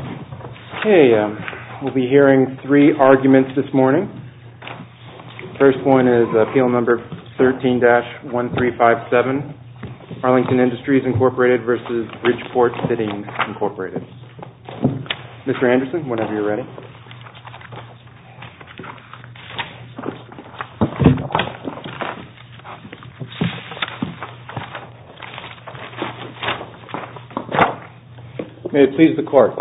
Okay, we'll be hearing three arguments this morning. First one is Appeal Number 13-1357, Arlington Industries, Inc. v. Bridgeport Fittings, Inc. Mr. Anderson, whenever you're ready. May it please the Court.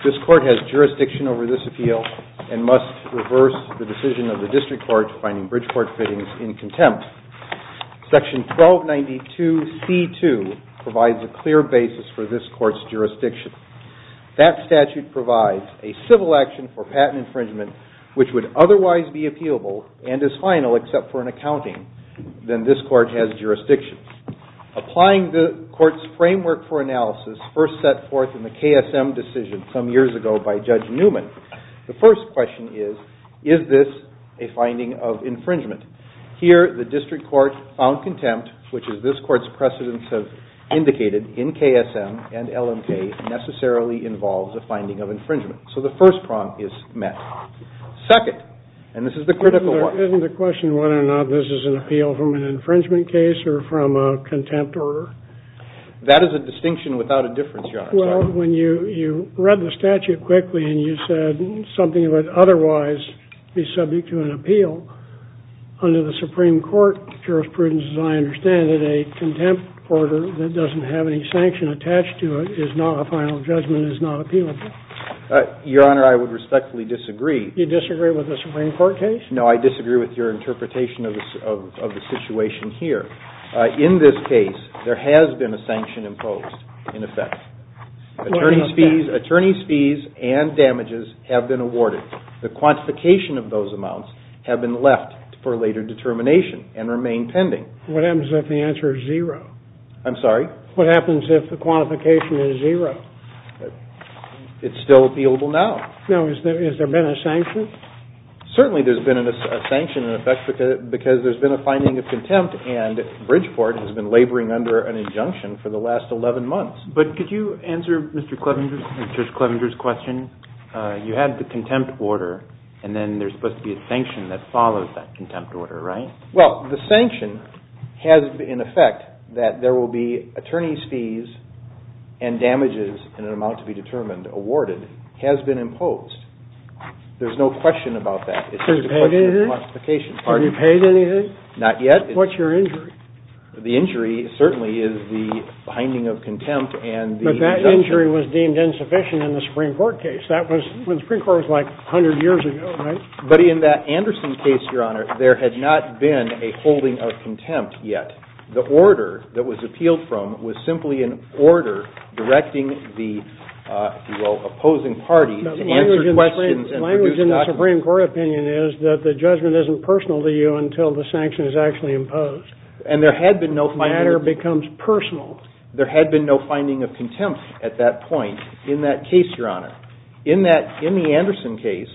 This Court has jurisdiction over this appeal and must reverse the decision of the District Court to find Bridgeport Fittings in contempt. Section 1292C2 provides a clear basis for this Court's jurisdiction. That statute provides a civil action for patent infringement which would otherwise be appealable and is final except for an accounting. Then this Court has jurisdiction. Applying the Court's framework for analysis first set forth in the KSM decision some years ago by Judge Newman, the first question is, is this a finding of infringement? Here the District Court found contempt, which is this Court's precedence of indicated in So the first prompt is met. Second, and this is the critical one. Isn't the question whether or not this is an appeal from an infringement case or from a contempt order? That is a distinction without a difference, Your Honor. Well, when you read the statute quickly and you said something would otherwise be subject to an appeal, under the Supreme Court jurisprudence, as I understand it, a contempt order that is not a final judgment is not appealable. Your Honor, I would respectfully disagree. You disagree with the Supreme Court case? No, I disagree with your interpretation of the situation here. In this case, there has been a sanction imposed, in effect. Attorney's fees and damages have been awarded. The quantification of those amounts have been left for later determination and remain pending. What happens if the answer is zero? I'm sorry? What happens if the quantification is zero? It's still appealable now. No. Has there been a sanction? Certainly there's been a sanction, in effect, because there's been a finding of contempt and Bridgeport has been laboring under an injunction for the last 11 months. But could you answer Mr. Clevenger's question? You had the contempt order, and then there's supposed to be a sanction that follows that contempt order, right? Well, the sanction has, in effect, that there will be attorney's fees and damages in an amount to be determined, awarded, has been imposed. There's no question about that. It's just a question of quantification. Have you paid anything? Not yet. What's your injury? The injury certainly is the finding of contempt and the injunction. But that injury was deemed insufficient in the Supreme Court case. That was when the Supreme Court was like 100 years ago, right? But in that Anderson case, Your Honor, there had not been a holding of contempt yet. The order that was appealed from was simply an order directing the, if you will, opposing parties to answer questions and produce documents. The language in the Supreme Court opinion is that the judgment isn't personal to you until the sanction is actually imposed. And there had been no finding. The matter becomes personal. There had been no finding of contempt at that point in that case, Your Honor. In the Anderson case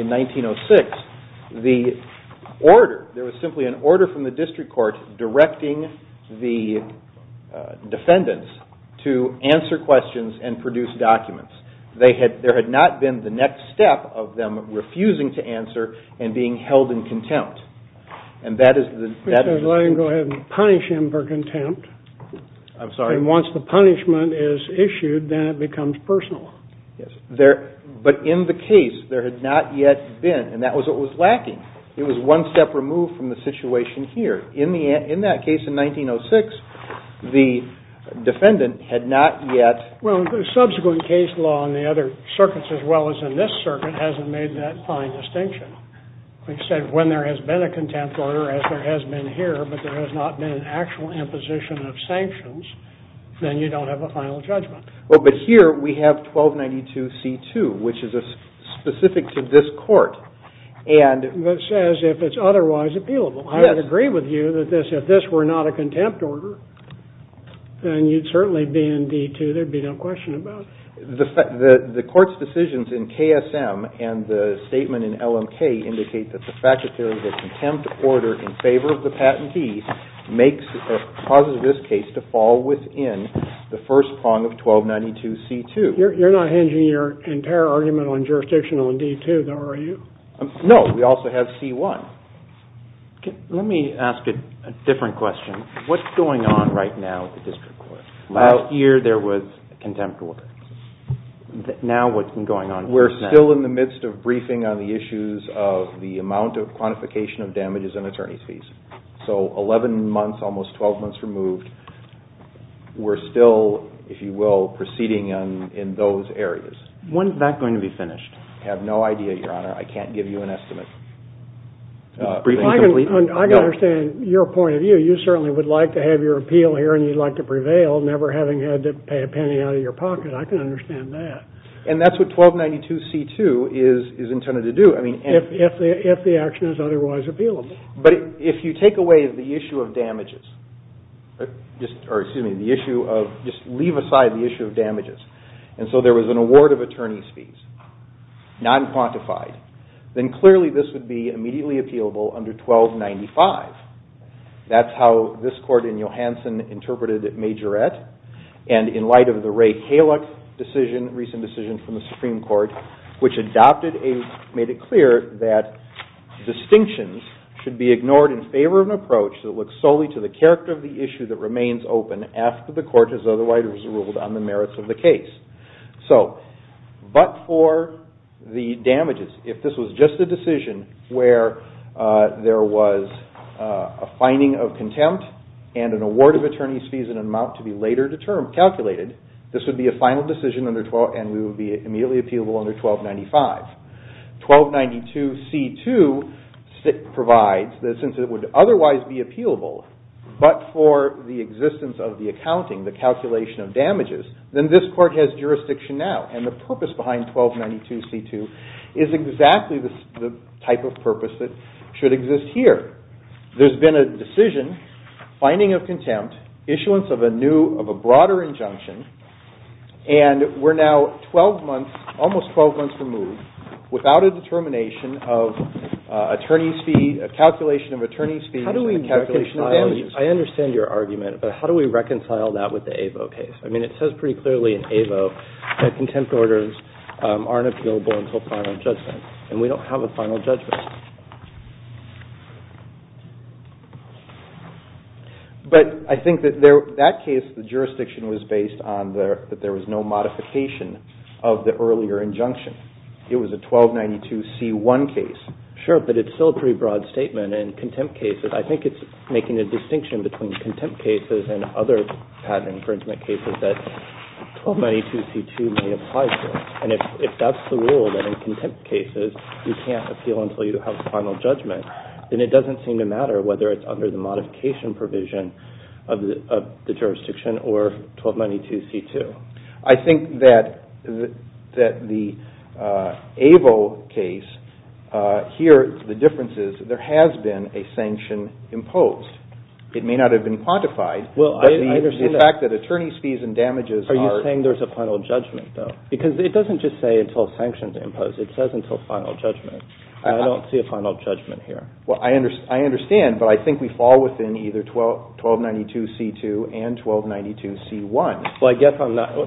in 1906, the order, there was simply an order from the district court directing the defendants to answer questions and produce documents. There had not been the next step of them refusing to answer and being held in contempt. And that is the... Let him go ahead and punish him for contempt. I'm sorry? And once the punishment is issued, then it becomes personal. Yes. But in the case, there had not yet been, and that was what was lacking. It was one step removed from the situation here. In that case in 1906, the defendant had not yet... Well, the subsequent case law in the other circuits as well as in this circuit hasn't made that fine distinction. They said when there has been a contempt order, as there has been here, but there has not been an actual imposition of sanctions, then you don't have a final judgment. Well, but here we have 1292C2, which is specific to this court, and... That says if it's otherwise appealable. Yes. I would agree with you that if this were not a contempt order, then you'd certainly be in D2, there'd be no question about it. The court's decisions in KSM and the statement in LMK indicate that the fact that there is a contempt order in favor of the patentee causes this case to fall within the first prong of 1292C2. You're not hinging your entire argument on jurisdictional in D2, though, are you? No. We also have C1. Let me ask a different question. What's going on right now at the district court? Last year there was a contempt order. Now what's been going on? We're still in the midst of briefing on the issues of the amount of quantification of damages and attorney's fees. So 11 months, almost 12 months removed. We're still, if you will, proceeding in those areas. When is that going to be finished? I have no idea, Your Honor. I can't give you an estimate. I can understand your point of view. You certainly would like to have your appeal here and you'd like to prevail, never having had to pay a penny out of your pocket. I can understand that. And that's what 1292C2 is intended to do. If the action is otherwise appealable. But if you take away the issue of damages, or excuse me, the issue of just leave aside the issue of damages, and so there was an award of attorney's fees, non-quantified, then clearly this would be immediately appealable under 1295. That's how this court in Johanson interpreted it, Majorette, and in light of the Ray Kaluck decision, recent decision from the Supreme Court, which made it clear that distinctions should be ignored in favor of an approach that looks solely to the character of the issue that remains open after the court has otherwise ruled on the merits of the case. But for the damages, if this was just a decision where there was a finding of contempt and an award of attorney's fees in an amount to be later calculated, this would be a final decision and would be immediately appealable under 1295. 1292C2 provides that since it would otherwise be appealable, but for the existence of the accounting, the calculation of damages, then this court has jurisdiction now. And the purpose behind 1292C2 is exactly the type of purpose that should exist here. There's been a decision, finding of contempt, issuance of a new, of a broader injunction, and we're now 12 months, almost 12 months removed without a determination of attorney's fee, a calculation of attorney's fees and a calculation of damages. I understand your argument, but how do we reconcile that with the AVO case? I mean, it says pretty clearly in AVO that contempt orders aren't appealable until final judgment, and we don't have a final judgment. But I think that case, the jurisdiction was based on that there was no modification of the earlier injunction. It was a 1292C1 case. Sure, but it's still a pretty broad statement, and contempt cases, I think it's making a distinction between contempt cases and other patent infringement cases that 1292C2 may apply to. And if that's the rule, that in contempt cases you can't appeal until you have a final judgment, then it doesn't seem to matter whether it's under the modification provision of the jurisdiction or 1292C2. I think that the AVO case, here the difference is there has been a sanction imposed. It may not have been quantified, but the fact that attorney's fees and damages are... It doesn't just say until sanctions imposed. It says until final judgment. I don't see a final judgment here. Well, I understand, but I think we fall within either 1292C2 and 1292C1. Well, I guess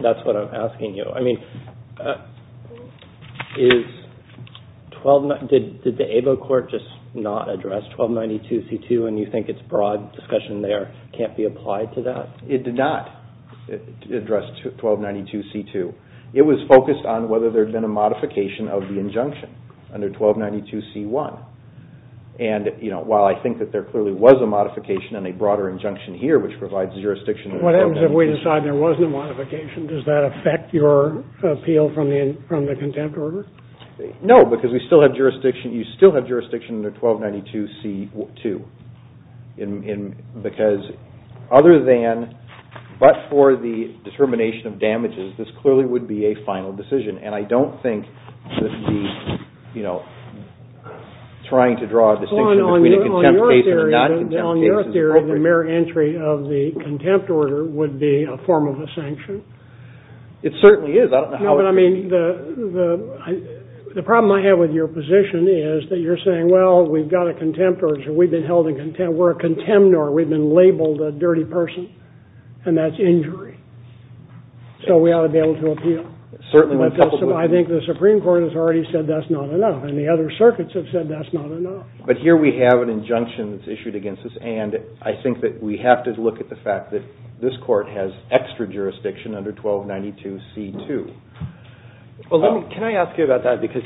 that's what I'm asking you. I mean, did the AVO court just not address 1292C2 and you think its broad discussion there can't be applied to that? It did not address 1292C2. It was focused on whether there had been a modification of the injunction under 1292C1. And while I think that there clearly was a modification and a broader injunction here which provides jurisdiction... What happens if we decide there wasn't a modification? Does that affect your appeal from the contempt order? No, because we still have jurisdiction. You still have jurisdiction under 1292C2 because other than... This clearly would be a final decision, and I don't think that trying to draw a distinction between a contempt case and a non-contempt case is appropriate. On your theory, the mere entry of the contempt order would be a form of a sanction. It certainly is. I don't know how... No, but I mean, the problem I have with your position is that you're saying, well, we've got a contempt order, so we've been held in contempt. We're a contemnor. We've been labeled a dirty person, and that's injury. So we ought to be able to appeal. I think the Supreme Court has already said that's not enough, and the other circuits have said that's not enough. But here we have an injunction that's issued against us, and I think that we have to look at the fact that this court has extra jurisdiction under 1292C2. Well, can I ask you about that? Because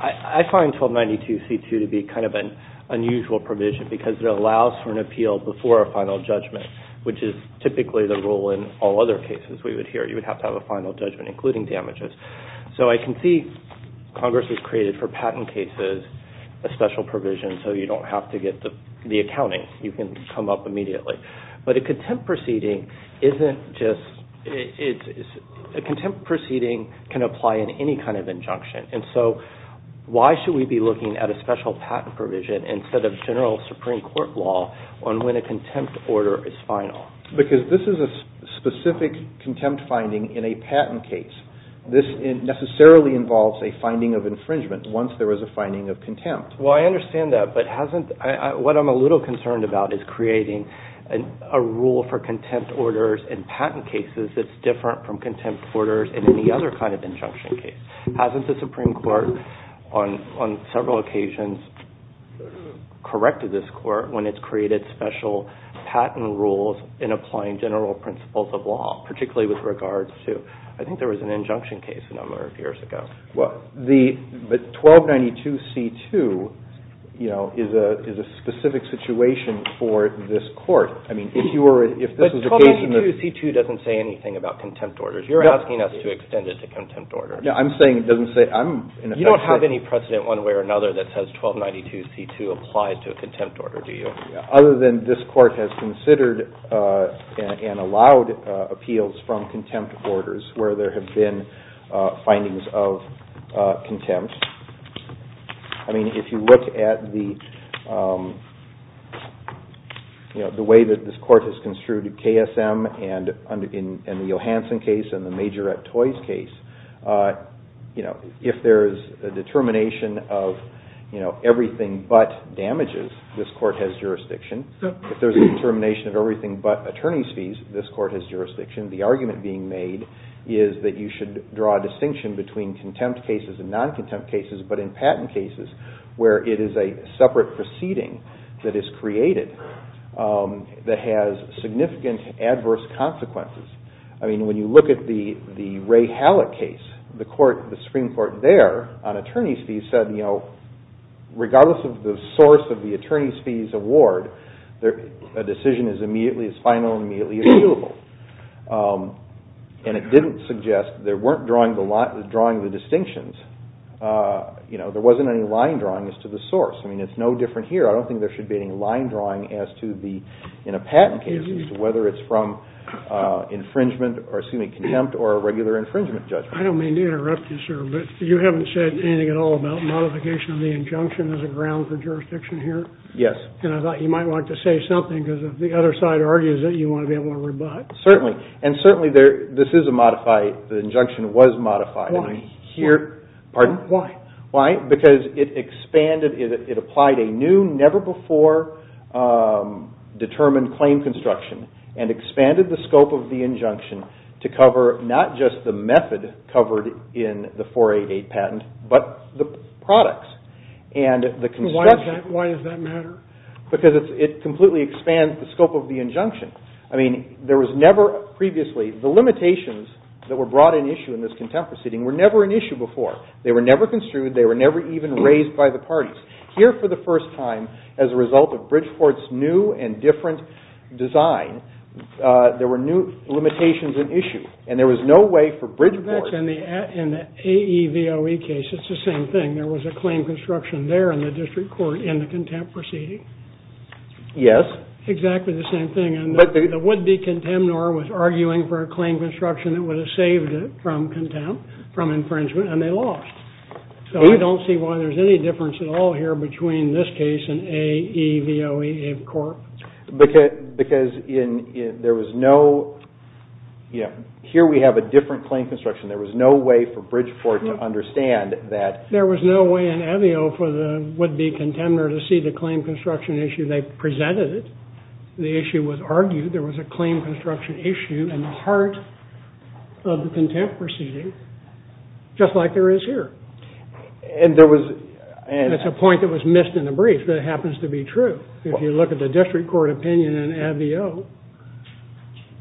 I find 1292C2 to be kind of an unusual provision because it allows for an appeal before a final judgment, which is typically the rule in all other cases we would hear. You would have to have a final judgment, including damages. So I can see Congress has created for patent cases a special provision, so you don't have to get the accounting. You can come up immediately. But a contempt proceeding isn't just... A contempt proceeding can apply in any kind of injunction, and so why should we be looking at a special patent provision instead of general Supreme Court law on when a contempt order is final? Because this is a specific contempt finding in a patent case. This necessarily involves a finding of infringement once there is a finding of contempt. Well, I understand that, but what I'm a little concerned about is creating a rule for contempt orders in patent cases that's different from contempt orders in any other kind of injunction case. Hasn't the Supreme Court on several occasions corrected this court when it's created special patent rules in applying general principles of law, particularly with regards to... I think there was an injunction case a number of years ago. But 1292C2 is a specific situation for this court. But 1292C2 doesn't say anything about contempt orders. You're asking us to extend it to contempt orders. No, I'm saying it doesn't say... You don't have any precedent one way or another that says 1292C2 applies to a contempt order, do you? Other than this court has considered and allowed appeals from contempt orders where there have been findings of contempt. I mean, if you look at the way that this court has construed KSM and the Johansson case and the Majorette Toys case, if there's a determination of everything but damages, this court has jurisdiction. If there's a determination of everything but attorney's fees, this court has jurisdiction. The argument being made is that you should draw a distinction between contempt cases and non-contempt cases, but in patent cases where it is a separate proceeding that is created that has significant adverse consequences. I mean, when you look at the Ray Hallett case, the Supreme Court there on attorney's fees said, regardless of the source of the attorney's fees award, a decision is final and immediately appealable. And it didn't suggest they weren't drawing the distinctions. There wasn't any line drawings to the source. I mean, it's no different here. I don't think there should be any line drawing in a patent case as to whether it's from contempt or a regular infringement judgment. I don't mean to interrupt you, sir, but you haven't said anything at all about modification of the injunction as a ground for jurisdiction here? Yes. And I thought you might want to say something because if the other side argues it, you want to be able to rebut. Certainly. And certainly this is a modified, the injunction was modified. Why? Pardon? Why? Why? Because it expanded, it applied a new, never before determined claim construction and expanded the scope of the injunction to cover not just the method covered in the 488 patent, but the products and the construction. Why does that matter? Because it completely expands the scope of the injunction. I mean, there was never previously, the limitations that were brought in issue in this contempt proceeding were never an issue before. They were never construed, they were never even raised by the parties. Here for the first time, as a result of Bridgeport's new and different design, there were new limitations in issue, and there was no way for Bridgeport. That's in the AEVOE case, it's the same thing. There was a claim construction there in the district court in the contempt proceeding. Yes. Exactly the same thing. And the would-be contemnor was arguing for a claim construction that would have saved it from contempt, from infringement, and they lost. So we don't see why there's any difference at all here between this case and AEVOE in court. Because there was no, here we have a different claim construction. There was no way for Bridgeport to understand that. There was no way in AVEO for the would-be contemnor to see the claim construction issue. They presented it. The issue was argued. There was a claim construction issue in the heart of the contempt proceeding, just like there is here. And there was... That's a point that was missed in the brief, but it happens to be true. If you look at the district court opinion in AVEOE.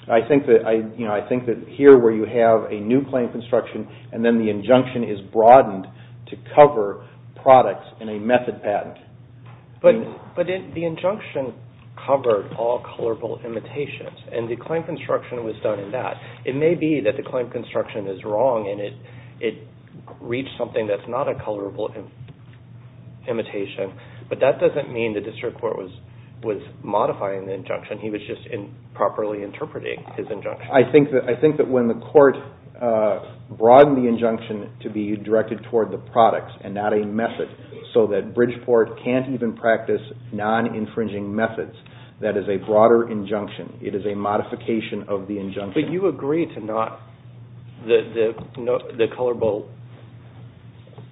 I think that here where you have a new claim construction and then the injunction is broadened to cover products in a method patent. But the injunction covered all colorful imitations, and the claim construction was done in that. It may be that the claim construction is wrong and it reached something that's not a colorful imitation, but that doesn't mean the district court was modifying the injunction. He was just improperly interpreting his injunction. I think that when the court broadened the injunction to be directed toward the products and not a method so that Bridgeport can't even practice non-infringing methods, that is a broader injunction. It is a modification of the injunction. But you agree to not... the colorful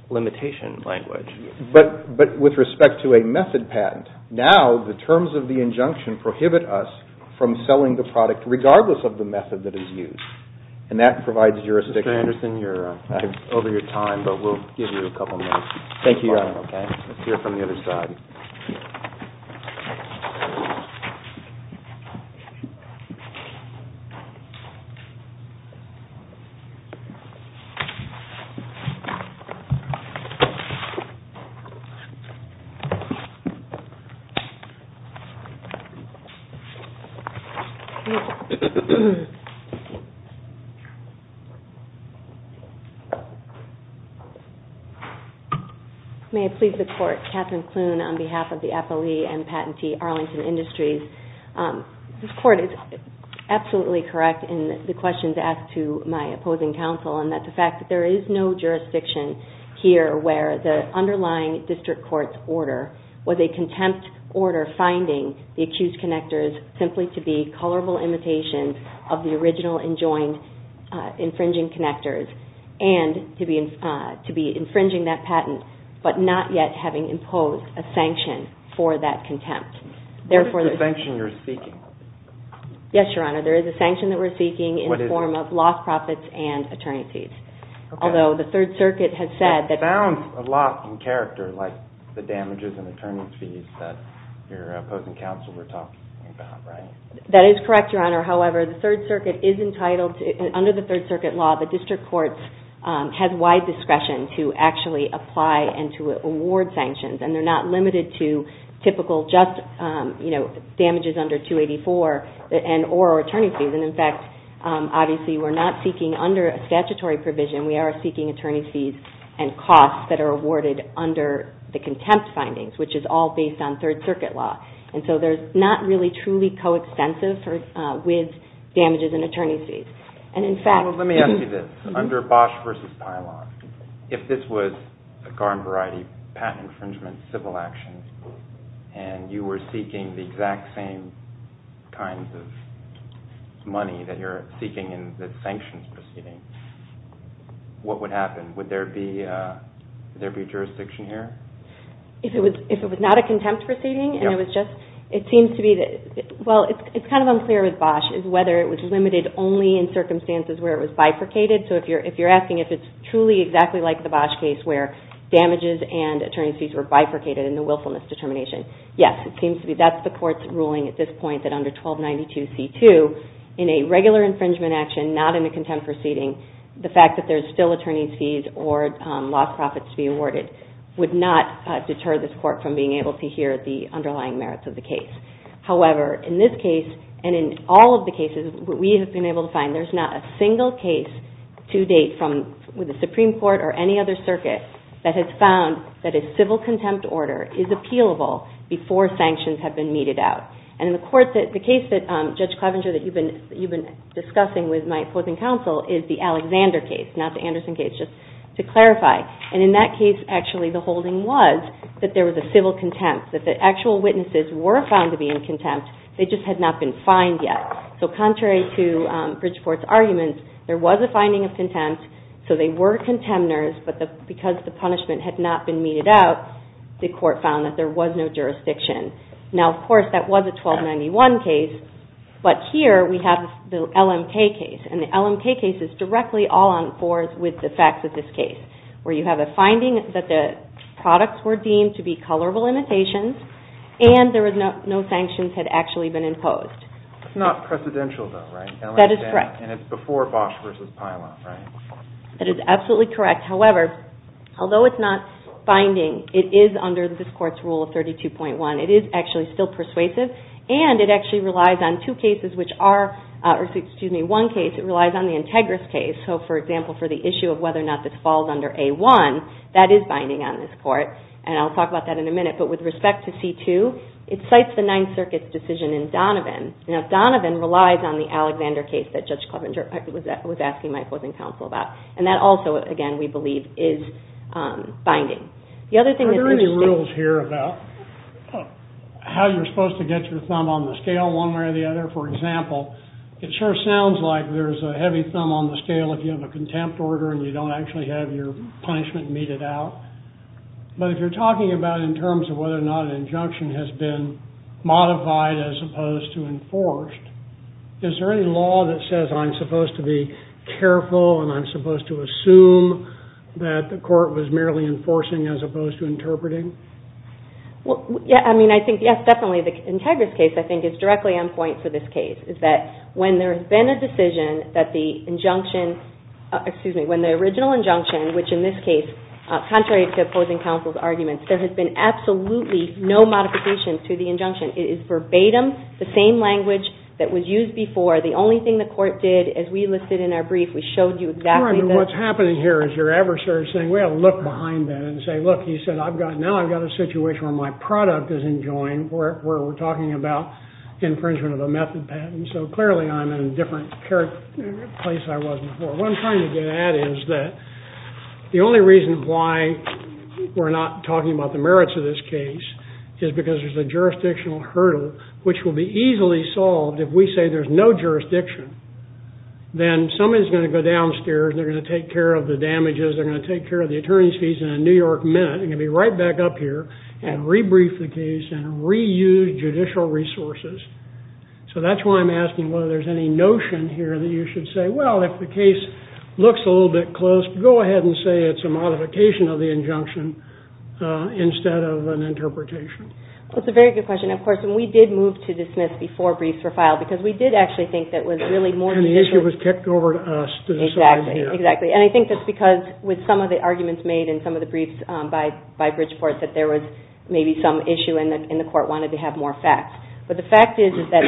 limitation language. But with respect to a method patent, now the terms of the injunction prohibit us from selling the product regardless of the method that is used. And that provides jurisdiction... Mr. Anderson, you're over your time, but we'll give you a couple minutes. Thank you. Let's hear from the other side. Thank you. May I please the court? Catherine Kloon on behalf of the appellee and patentee Arlington Industries. This court is absolutely correct in the questions asked to my opposing counsel and that the fact that there is no jurisdiction here where the underlying district court's order was a contempt order finding the accused connectors simply to be colorful imitation of the original enjoined infringing connectors and to be infringing that patent but not yet having imposed a sanction for that contempt. Therefore... What is the sanction you're seeking? Yes, Your Honor, there is a sanction that we're seeking in the form of lost profits and attorney's fees. Although the Third Circuit has said that... It sounds a lot in character like the damages and attorney's fees that your opposing counsel were talking about, right? That is correct, Your Honor. However, the Third Circuit is entitled... Under the Third Circuit law, the district courts have wide discretion to actually apply and to award sanctions. And they're not limited to typical just, you know, damages under 284 and or attorney's fees. And, in fact, obviously we're not seeking under a statutory provision. We are seeking attorney's fees and costs that are awarded under the contempt findings which is all based on Third Circuit law. And so they're not really truly co-extensive with damages and attorney's fees. Well, let me ask you this. Under Bosch v. Pilon, if this was a garden variety, patent infringement, civil action, and you were seeking the exact same kinds of money that you're seeking in the sanctions proceeding, what would happen? Would there be jurisdiction here? If it was not a contempt proceeding and it was just... It seems to be that... Well, it's kind of unclear with Bosch is whether it was limited only in circumstances where it was bifurcated. So if you're asking if it's truly exactly like the Bosch case where damages and attorney's fees were bifurcated in the willfulness determination, yes, it seems to be. That's the court's ruling at this point that under 1292C2, in a regular infringement action, not in a contempt proceeding, the fact that there's still attorney's fees or lost profits to be awarded would not deter this court from being able to hear the underlying merits of the case. However, in this case, and in all of the cases, we have been able to find there's not a single case to date with the Supreme Court or any other circuit that has found that a civil contempt order is appealable before sanctions have been meted out. And in the case that, Judge Clevenger, that you've been discussing with my fourth-in-counsel is the Alexander case, not the Anderson case, just to clarify. And in that case, actually the holding was that there was a civil contempt, that the actual witnesses were found to be in contempt, they just had not been fined yet. So contrary to Bridgeport's arguments, there was a finding of contempt, so they were contemptors, but because the punishment had not been meted out, the court found that there was no jurisdiction. Now, of course, that was a 1291 case, but here we have the LMK case, and the LMK case is directly all on board with the facts of this case, where you have a finding that the products were deemed to be colorable imitations, and no sanctions had actually been imposed. It's not precedential, though, right? That is correct. And it's before Bosch v. Pilon, right? That is absolutely correct. However, although it's not binding, it is under this Court's rule of 32.1. It is actually still persuasive, and it actually relies on two cases, which are, or excuse me, one case, it relies on the Integris case. So, for example, for the issue of whether or not this falls under A1, that is binding on this Court, and I'll talk about that in a minute, but with respect to C2, it cites the Ninth Circuit's decision in Donovan. Now, Donovan relies on the Alexander case that Judge Klobuchar was asking my opposing counsel about, and that also, again, we believe, is binding. The other thing that... Are there any rules here about how you're supposed to get your thumb on the scale one way or the other? For example, it sure sounds like there's a heavy thumb on the scale if you have a contempt order and you don't actually have your punishment meted out, but if you're talking about in terms of whether or not an injunction has been modified as opposed to enforced, is there any law that says I'm supposed to be careful and I'm supposed to assume that the Court was merely enforcing as opposed to interpreting? Well, yeah. I mean, I think, yes, definitely. The Integris case, I think, is directly on point for this case, is that when there has been a decision that the injunction... Excuse me. which in this case, contrary to opposing counsel's arguments, there has been absolutely no modification to the injunction. It is verbatim, the same language that was used before. The only thing the Court did, as we listed in our brief, we showed you exactly the... Well, I mean, what's happening here is your adversary is saying, we ought to look behind that and say, look, he said, now I've got a situation where my product is enjoying where we're talking about infringement of a method patent, so clearly I'm in a different place than I was before. What I'm trying to get at is that the only reason why we're not talking about the merits of this case is because there's a jurisdictional hurdle which will be easily solved if we say there's no jurisdiction. Then somebody's going to go downstairs, they're going to take care of the damages, they're going to take care of the attorney's fees in a New York minute, they're going to be right back up here and rebrief the case and reuse judicial resources. So that's why I'm asking whether there's any notion here that you should say, well, if the case looks a little bit close, go ahead and say it's a modification of the injunction instead of an interpretation. Well, it's a very good question. Of course, we did move to dismiss before briefs were filed because we did actually think that was really more... And the issue was kicked over to us. Exactly. And I think that's because with some of the arguments made in some of the briefs by Bridgeport that there was maybe some issue and the court wanted to have more facts. But the fact is that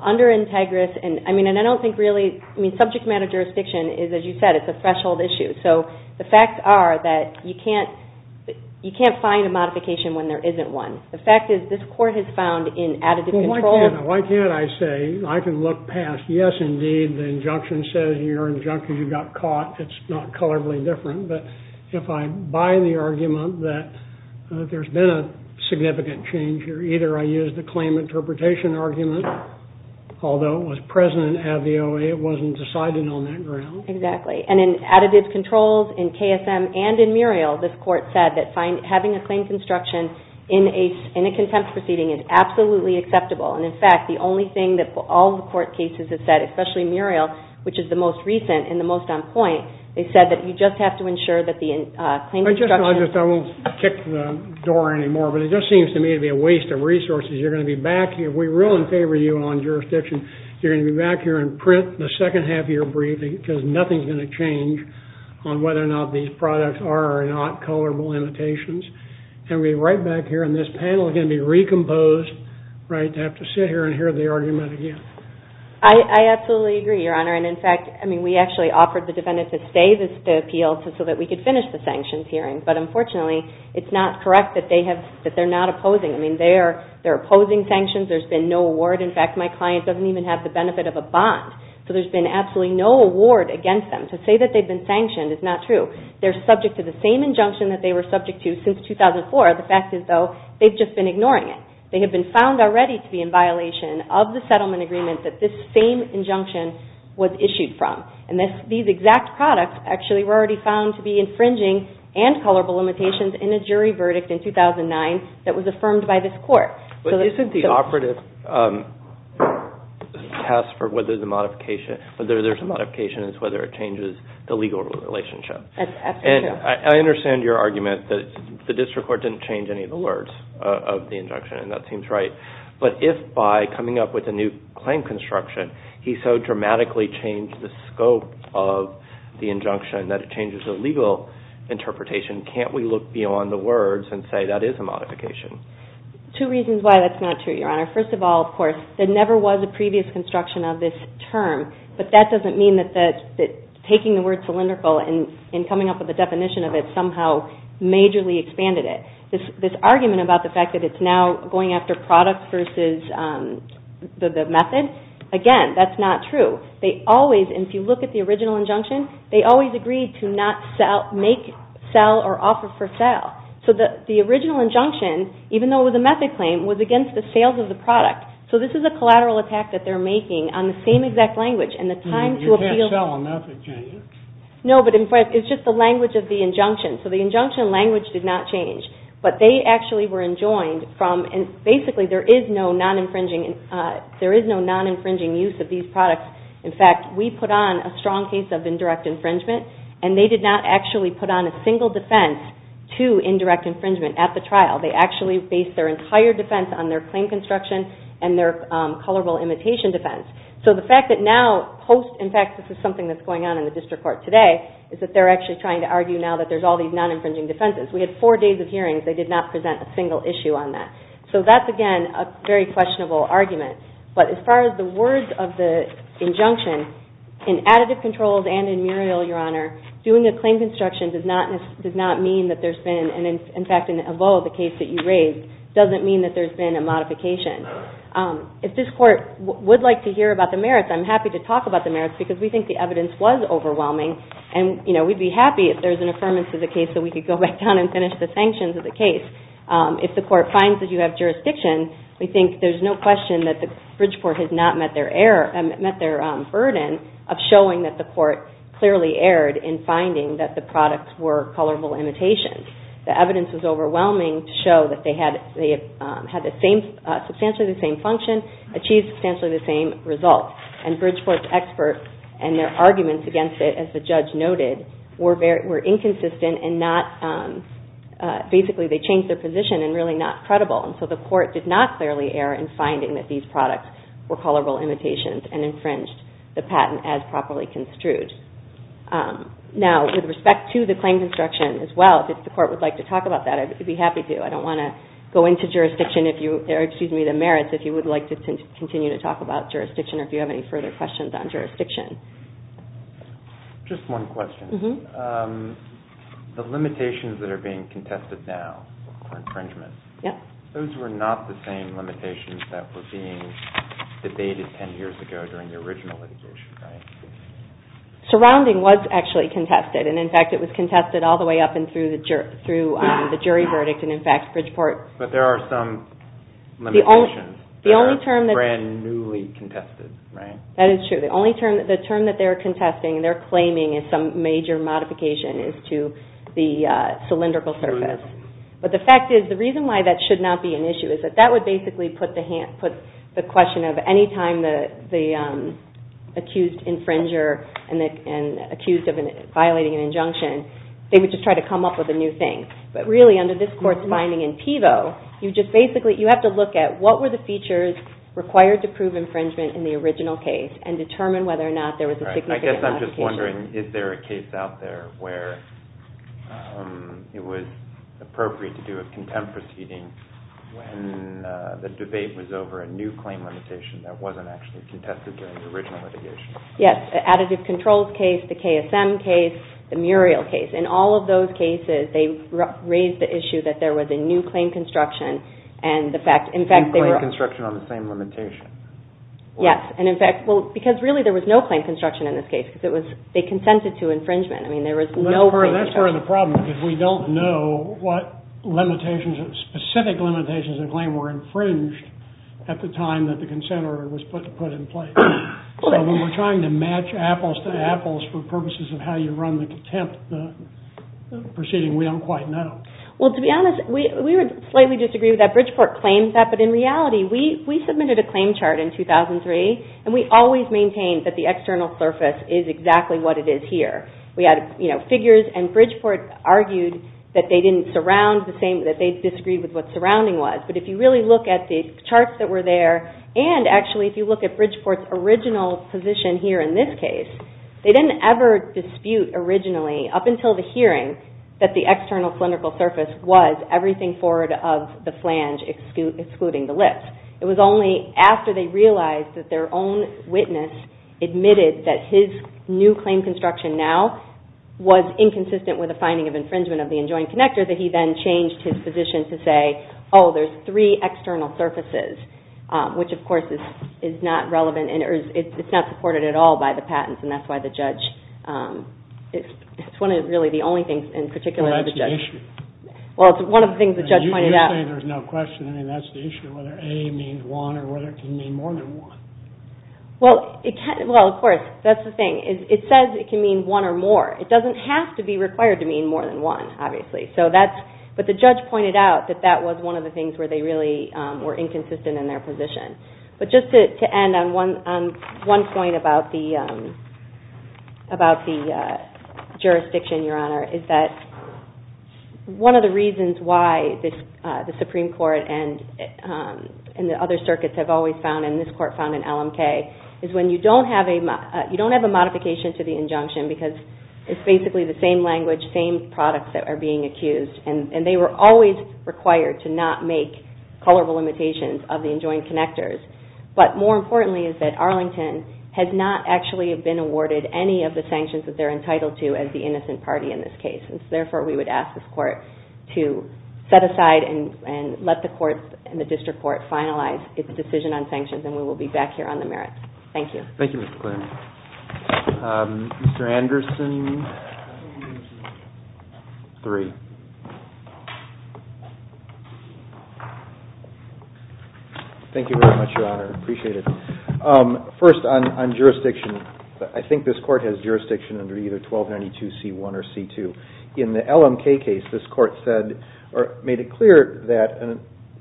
under INTEGRIS, and I don't think really, subject matter jurisdiction is, as you said, it's a threshold issue. So the facts are that you can't find a modification when there isn't one. The fact is, this court has found in additive controls... Why can't I say, I can look past, yes, indeed, the injunction says in your injunction you got caught. It's not colorfully different. But if I buy the argument that there's been a significant change here, either I use the claim interpretation argument, although it was present in ADVOA, it wasn't decided on that ground. Exactly. And in additive controls, in KSM, and in Muriel, this court said that having a claim construction in a contempt proceeding is absolutely acceptable. And in fact, the only thing that all the court cases have said, especially Muriel, which is the most recent and the most on point, they said that you just have to ensure that the claim construction... I won't kick the door anymore, but it just seems to me to be a waste of resources. You're going to be back here. We're really in favor of you on jurisdiction. You're going to be back here and print the second half of your brief because nothing's going to change on whether or not these products are or are not colorable limitations. And we're right back here and this panel is going to be recomposed, right, to have to sit here and hear the argument again. I absolutely agree, Your Honor. And in fact, I mean, we actually offered the defendant to stay the appeal so that we could finish the sanctions hearing. But unfortunately, it's not correct that they're not opposing. I mean, they're opposing sanctions. There's been no award. In fact, my client doesn't even have the benefit of a bond. So there's been absolutely no award against them. To say that they've been sanctioned is not true. They're subject to the same injunction that they were subject to since 2004. The fact is, though, they've just been ignoring it. They have been found already to be in violation of the settlement agreement that this same injunction was issued from. And these exact products, actually, were already found to be infringing and colorable limitations in a jury verdict in 2009 that was affirmed by this court. for whether the modification, whether there's a modification is whether it changes the legal relationship. That's absolutely true. And I understand your argument that it's not true. It's not true. I understand your argument that the district court didn't change any of the words of the injunction. And that seems right. But if, by coming up with a new claim construction, he so dramatically changed the scope of the injunction that it changes the legal interpretation, can't we look beyond the words and say that is a modification? Two reasons why that's not true, Your Honor. First of all, of course, there never was a previous construction of this term. But that doesn't mean that taking the word cylindrical and coming up with a definition of it somehow majorly expanded it. This argument about the fact that it's now going after product versus the method, again, that's not true. They always, and if you look at the original injunction, they always agreed to not make, sell, or offer for sale. So the original injunction, even though it was a method claim, was against the sales of the product. So this is a collateral attack that they're making on the same exact language and the time to appeal. You can't sell a method claim. No, but it's just the language of the injunction. So the injunction language did not change. But they actually were enjoined from, and basically, there is no non-infringing, there is no non-infringing use of these products. In fact, we put on a strong case of indirect infringement, and they did not actually put on a single defense to indirect infringement at the trial. They actually based their entire defense on their claim construction and their colorable imitation defense. So the fact that now, post, in fact, this is something that's going on in the district court today, is that they're actually trying to make and they're actually trying to argue now that there's all these non-infringing defenses. We had four days of hearings, they did not present a single issue on that. So that's, again, a very questionable argument. But as far as the words of the injunction, in additive controls and in Muriel, Your Honor, doing a claim construction does not mean that there's been, and in fact, in Evo, the case that you raised, doesn't mean that there's been a modification. If this court would like to hear about the merits, I'm happy to talk about the merits because we think the evidence was overwhelming and, you know, we'd be happy if there's an affirmance of the case that we could go back down and finish the sanctions of the case. If the court finds that you have jurisdiction, we think there's no question that the Bridgeport has not met their error, met their burden of showing that the court clearly erred in finding that the products were colorable imitations. The evidence was overwhelming to show that they had the same, substantially the same function, achieved substantially the same results. And Bridgeport's expert and their arguments against it, as the judge noted, were inconsistent and not, basically, they changed their position and really not credible. And so the court did not clearly err in finding that these products were colorable imitations and infringed the patent as properly construed. Now, with respect to the claim construction as well, if the court would like to talk about that, I'd be happy to. I don't want to go into jurisdiction or, excuse me, the merits if you would like to continue to talk about jurisdiction or if you have any further questions on jurisdiction. Just one question. The limitations that are being contested now for infringement, those were not the same limitations that were being debated ten years ago during the original litigation, right? Surrounding was actually contested and, in fact, it was contested all the way up and through the jury verdict and, in fact, Bridgeport... But there are some limitations. The only term... That are brand newly contested, right? That is true. The only term that they're contesting and they're claiming is some major modification is to the cylindrical surface. But the fact is the reason why that should not be an issue is that that would basically put the question of any time the accused infringer and accused of violating an injunction, they would just try to come up with a new thing. But really, under this court's binding in PIVO, you just basically... You have to look at what were the features required to prove infringement in the original case and determine whether or not there was a significant modification. Right. I guess I'm just wondering, is there a case out there where it was appropriate to do a contempt proceeding when the debate was over a new claim limitation that wasn't actually contested during the original litigation? Yes. Additive controls case, the KSM case, the Muriel case. In all of those cases, they raised the issue that there was a new claim construction and the fact... New claim construction on the same limitation. Yes. And in fact, because really there was no claim construction in this case because they consented to infringement. That's part of the problem because we were trying to match apples to apples for purposes of how you run the contempt proceeding. We don't quite know. Well, to be honest, we would slightly disagree with that. Bridgeport claims that, but in reality, we submitted a claim chart in 2003, and we always maintained that the external clinical surface was everything forward of the flange excluding the lips. It was only after they realized that their own witness admitted that his new claim construction now was inconsistent with the finding of infringement of the enjoined connector that he then changed his position to say, oh, there's three external surfaces, which, of course, is not supported at all by the patents, and that's why the judge, it's one of the only things in particular that the judge, well, it's one of the things the judge pointed out. You say there's no question. I mean, that was one of the things where they really were inconsistent in their But just to end on one point about the jurisdiction, Your Honor, is that one of the reasons why the Supreme Court and the other circuits have always found, and this court found in LMK, is when you don't have a modification to the injunction, because it's basically the same language, same products that are being accused, and they were always required to not make colorable limitations of the enjoined connectors, but more importantly is that Arlington has not actually been awarded any of the sanctions that they're entitled to as the innocent party in this case. And so therefore we would ask this court to set aside and let the courts and the district court finalize its decision on sanctions, and we will be back here on the merits. Thank you. Thank you, Mr. McLennan. Mr. Anderson, three. Thank you very much, Your Honor. I appreciate it. First, on jurisdiction, I think this court has made it clear that a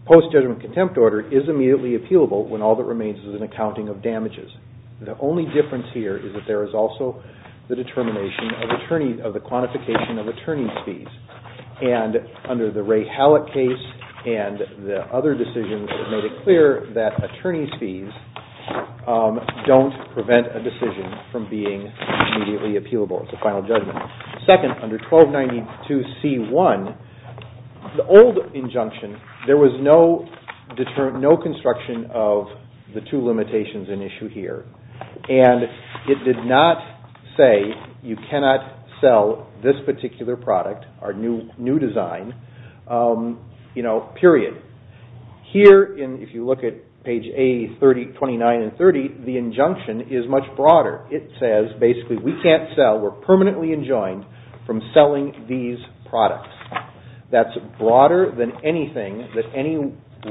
post judgment contempt order is immediately appealable when all that remains is an accounting of damages. The only difference here is that there is also the determination of the quantification of attorney fees, and under the Ray Hallett case and the other decisions made it clear that attorney fees don't prevent a decision from being immediately appealable. It's a final judgment. Second, under 1292C1, the old injunction, there was no construction of the two limitations in issue here, and it did not say you cannot sell this product. Here, if you look at page A, 29 and 30, the injunction is much broader. It says basically we can't sell, we're permanently enjoined from selling these products. That's broader than anything that any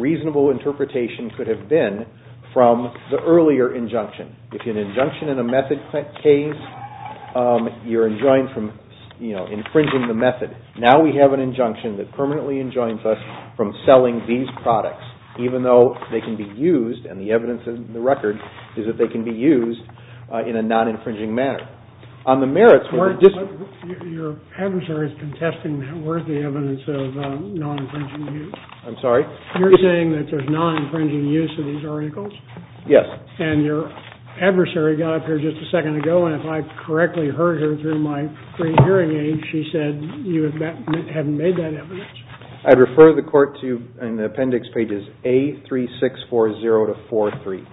reasonable interpretation could have been from the earlier injunction. If you have an injunction in a method case, you're enjoined from infringing the method. Now we have an injunction that permanently enjoins us from selling these products, even though they can be used in a non-infringing manner. Now, on the merits... Your adversary is contesting that. Where is the evidence of non-infringing use? I'm sorry? You're saying that there's non-infringing use of these articles? Yes. And your adversary got up here just a second ago and if I correctly heard her through my pre-hearing aid, she said you haven't made that evidence. I refer the court to appendix pages A3640-43.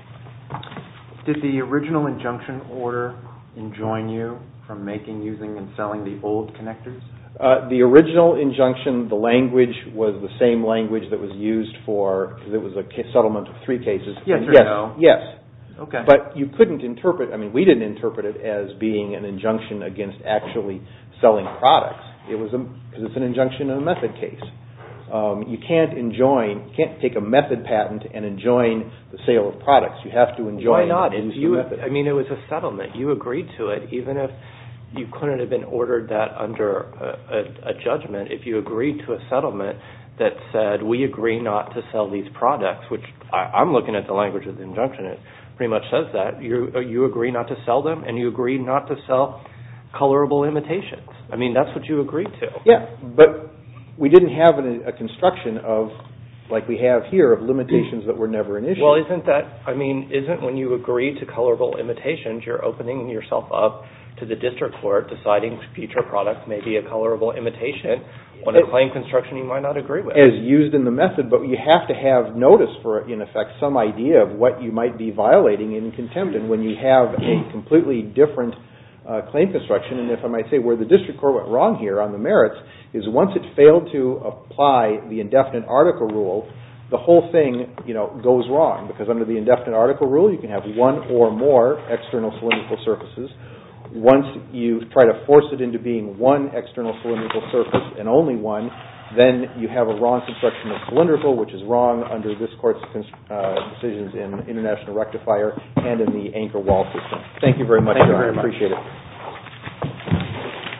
Did the original injunction order enjoin you from making, using, and selling the old connectors? The original injunction, the language was the same language that was used for the settlement of three products. It was an injunction in a method case. You can't take a method patent and enjoin the sale of products. Why not? It was a settlement. You agreed to it even if you couldn't have been ordered that under a judgment. If you agreed to a settlement that said we agree not to sell these products, which I'm looking at the language of the injunction, it pretty much says that. You agree not to sell them and you agree not to sell colorable imitations. That's what you agreed to. We didn't have a construction like we have here of limitations that were never an issue. Isn't when you agree to colorable imitations you're opening yourself up to the district court deciding future products may be a colorable imitation when a claim construction you might not agree with. You have to have notice of what you might be at. You have to have one or more external surfaces. Once you try to force it into being one external surface and only one, then you have a wrong construction of cylindrical which is wrong. Thank you very much. I appreciate it.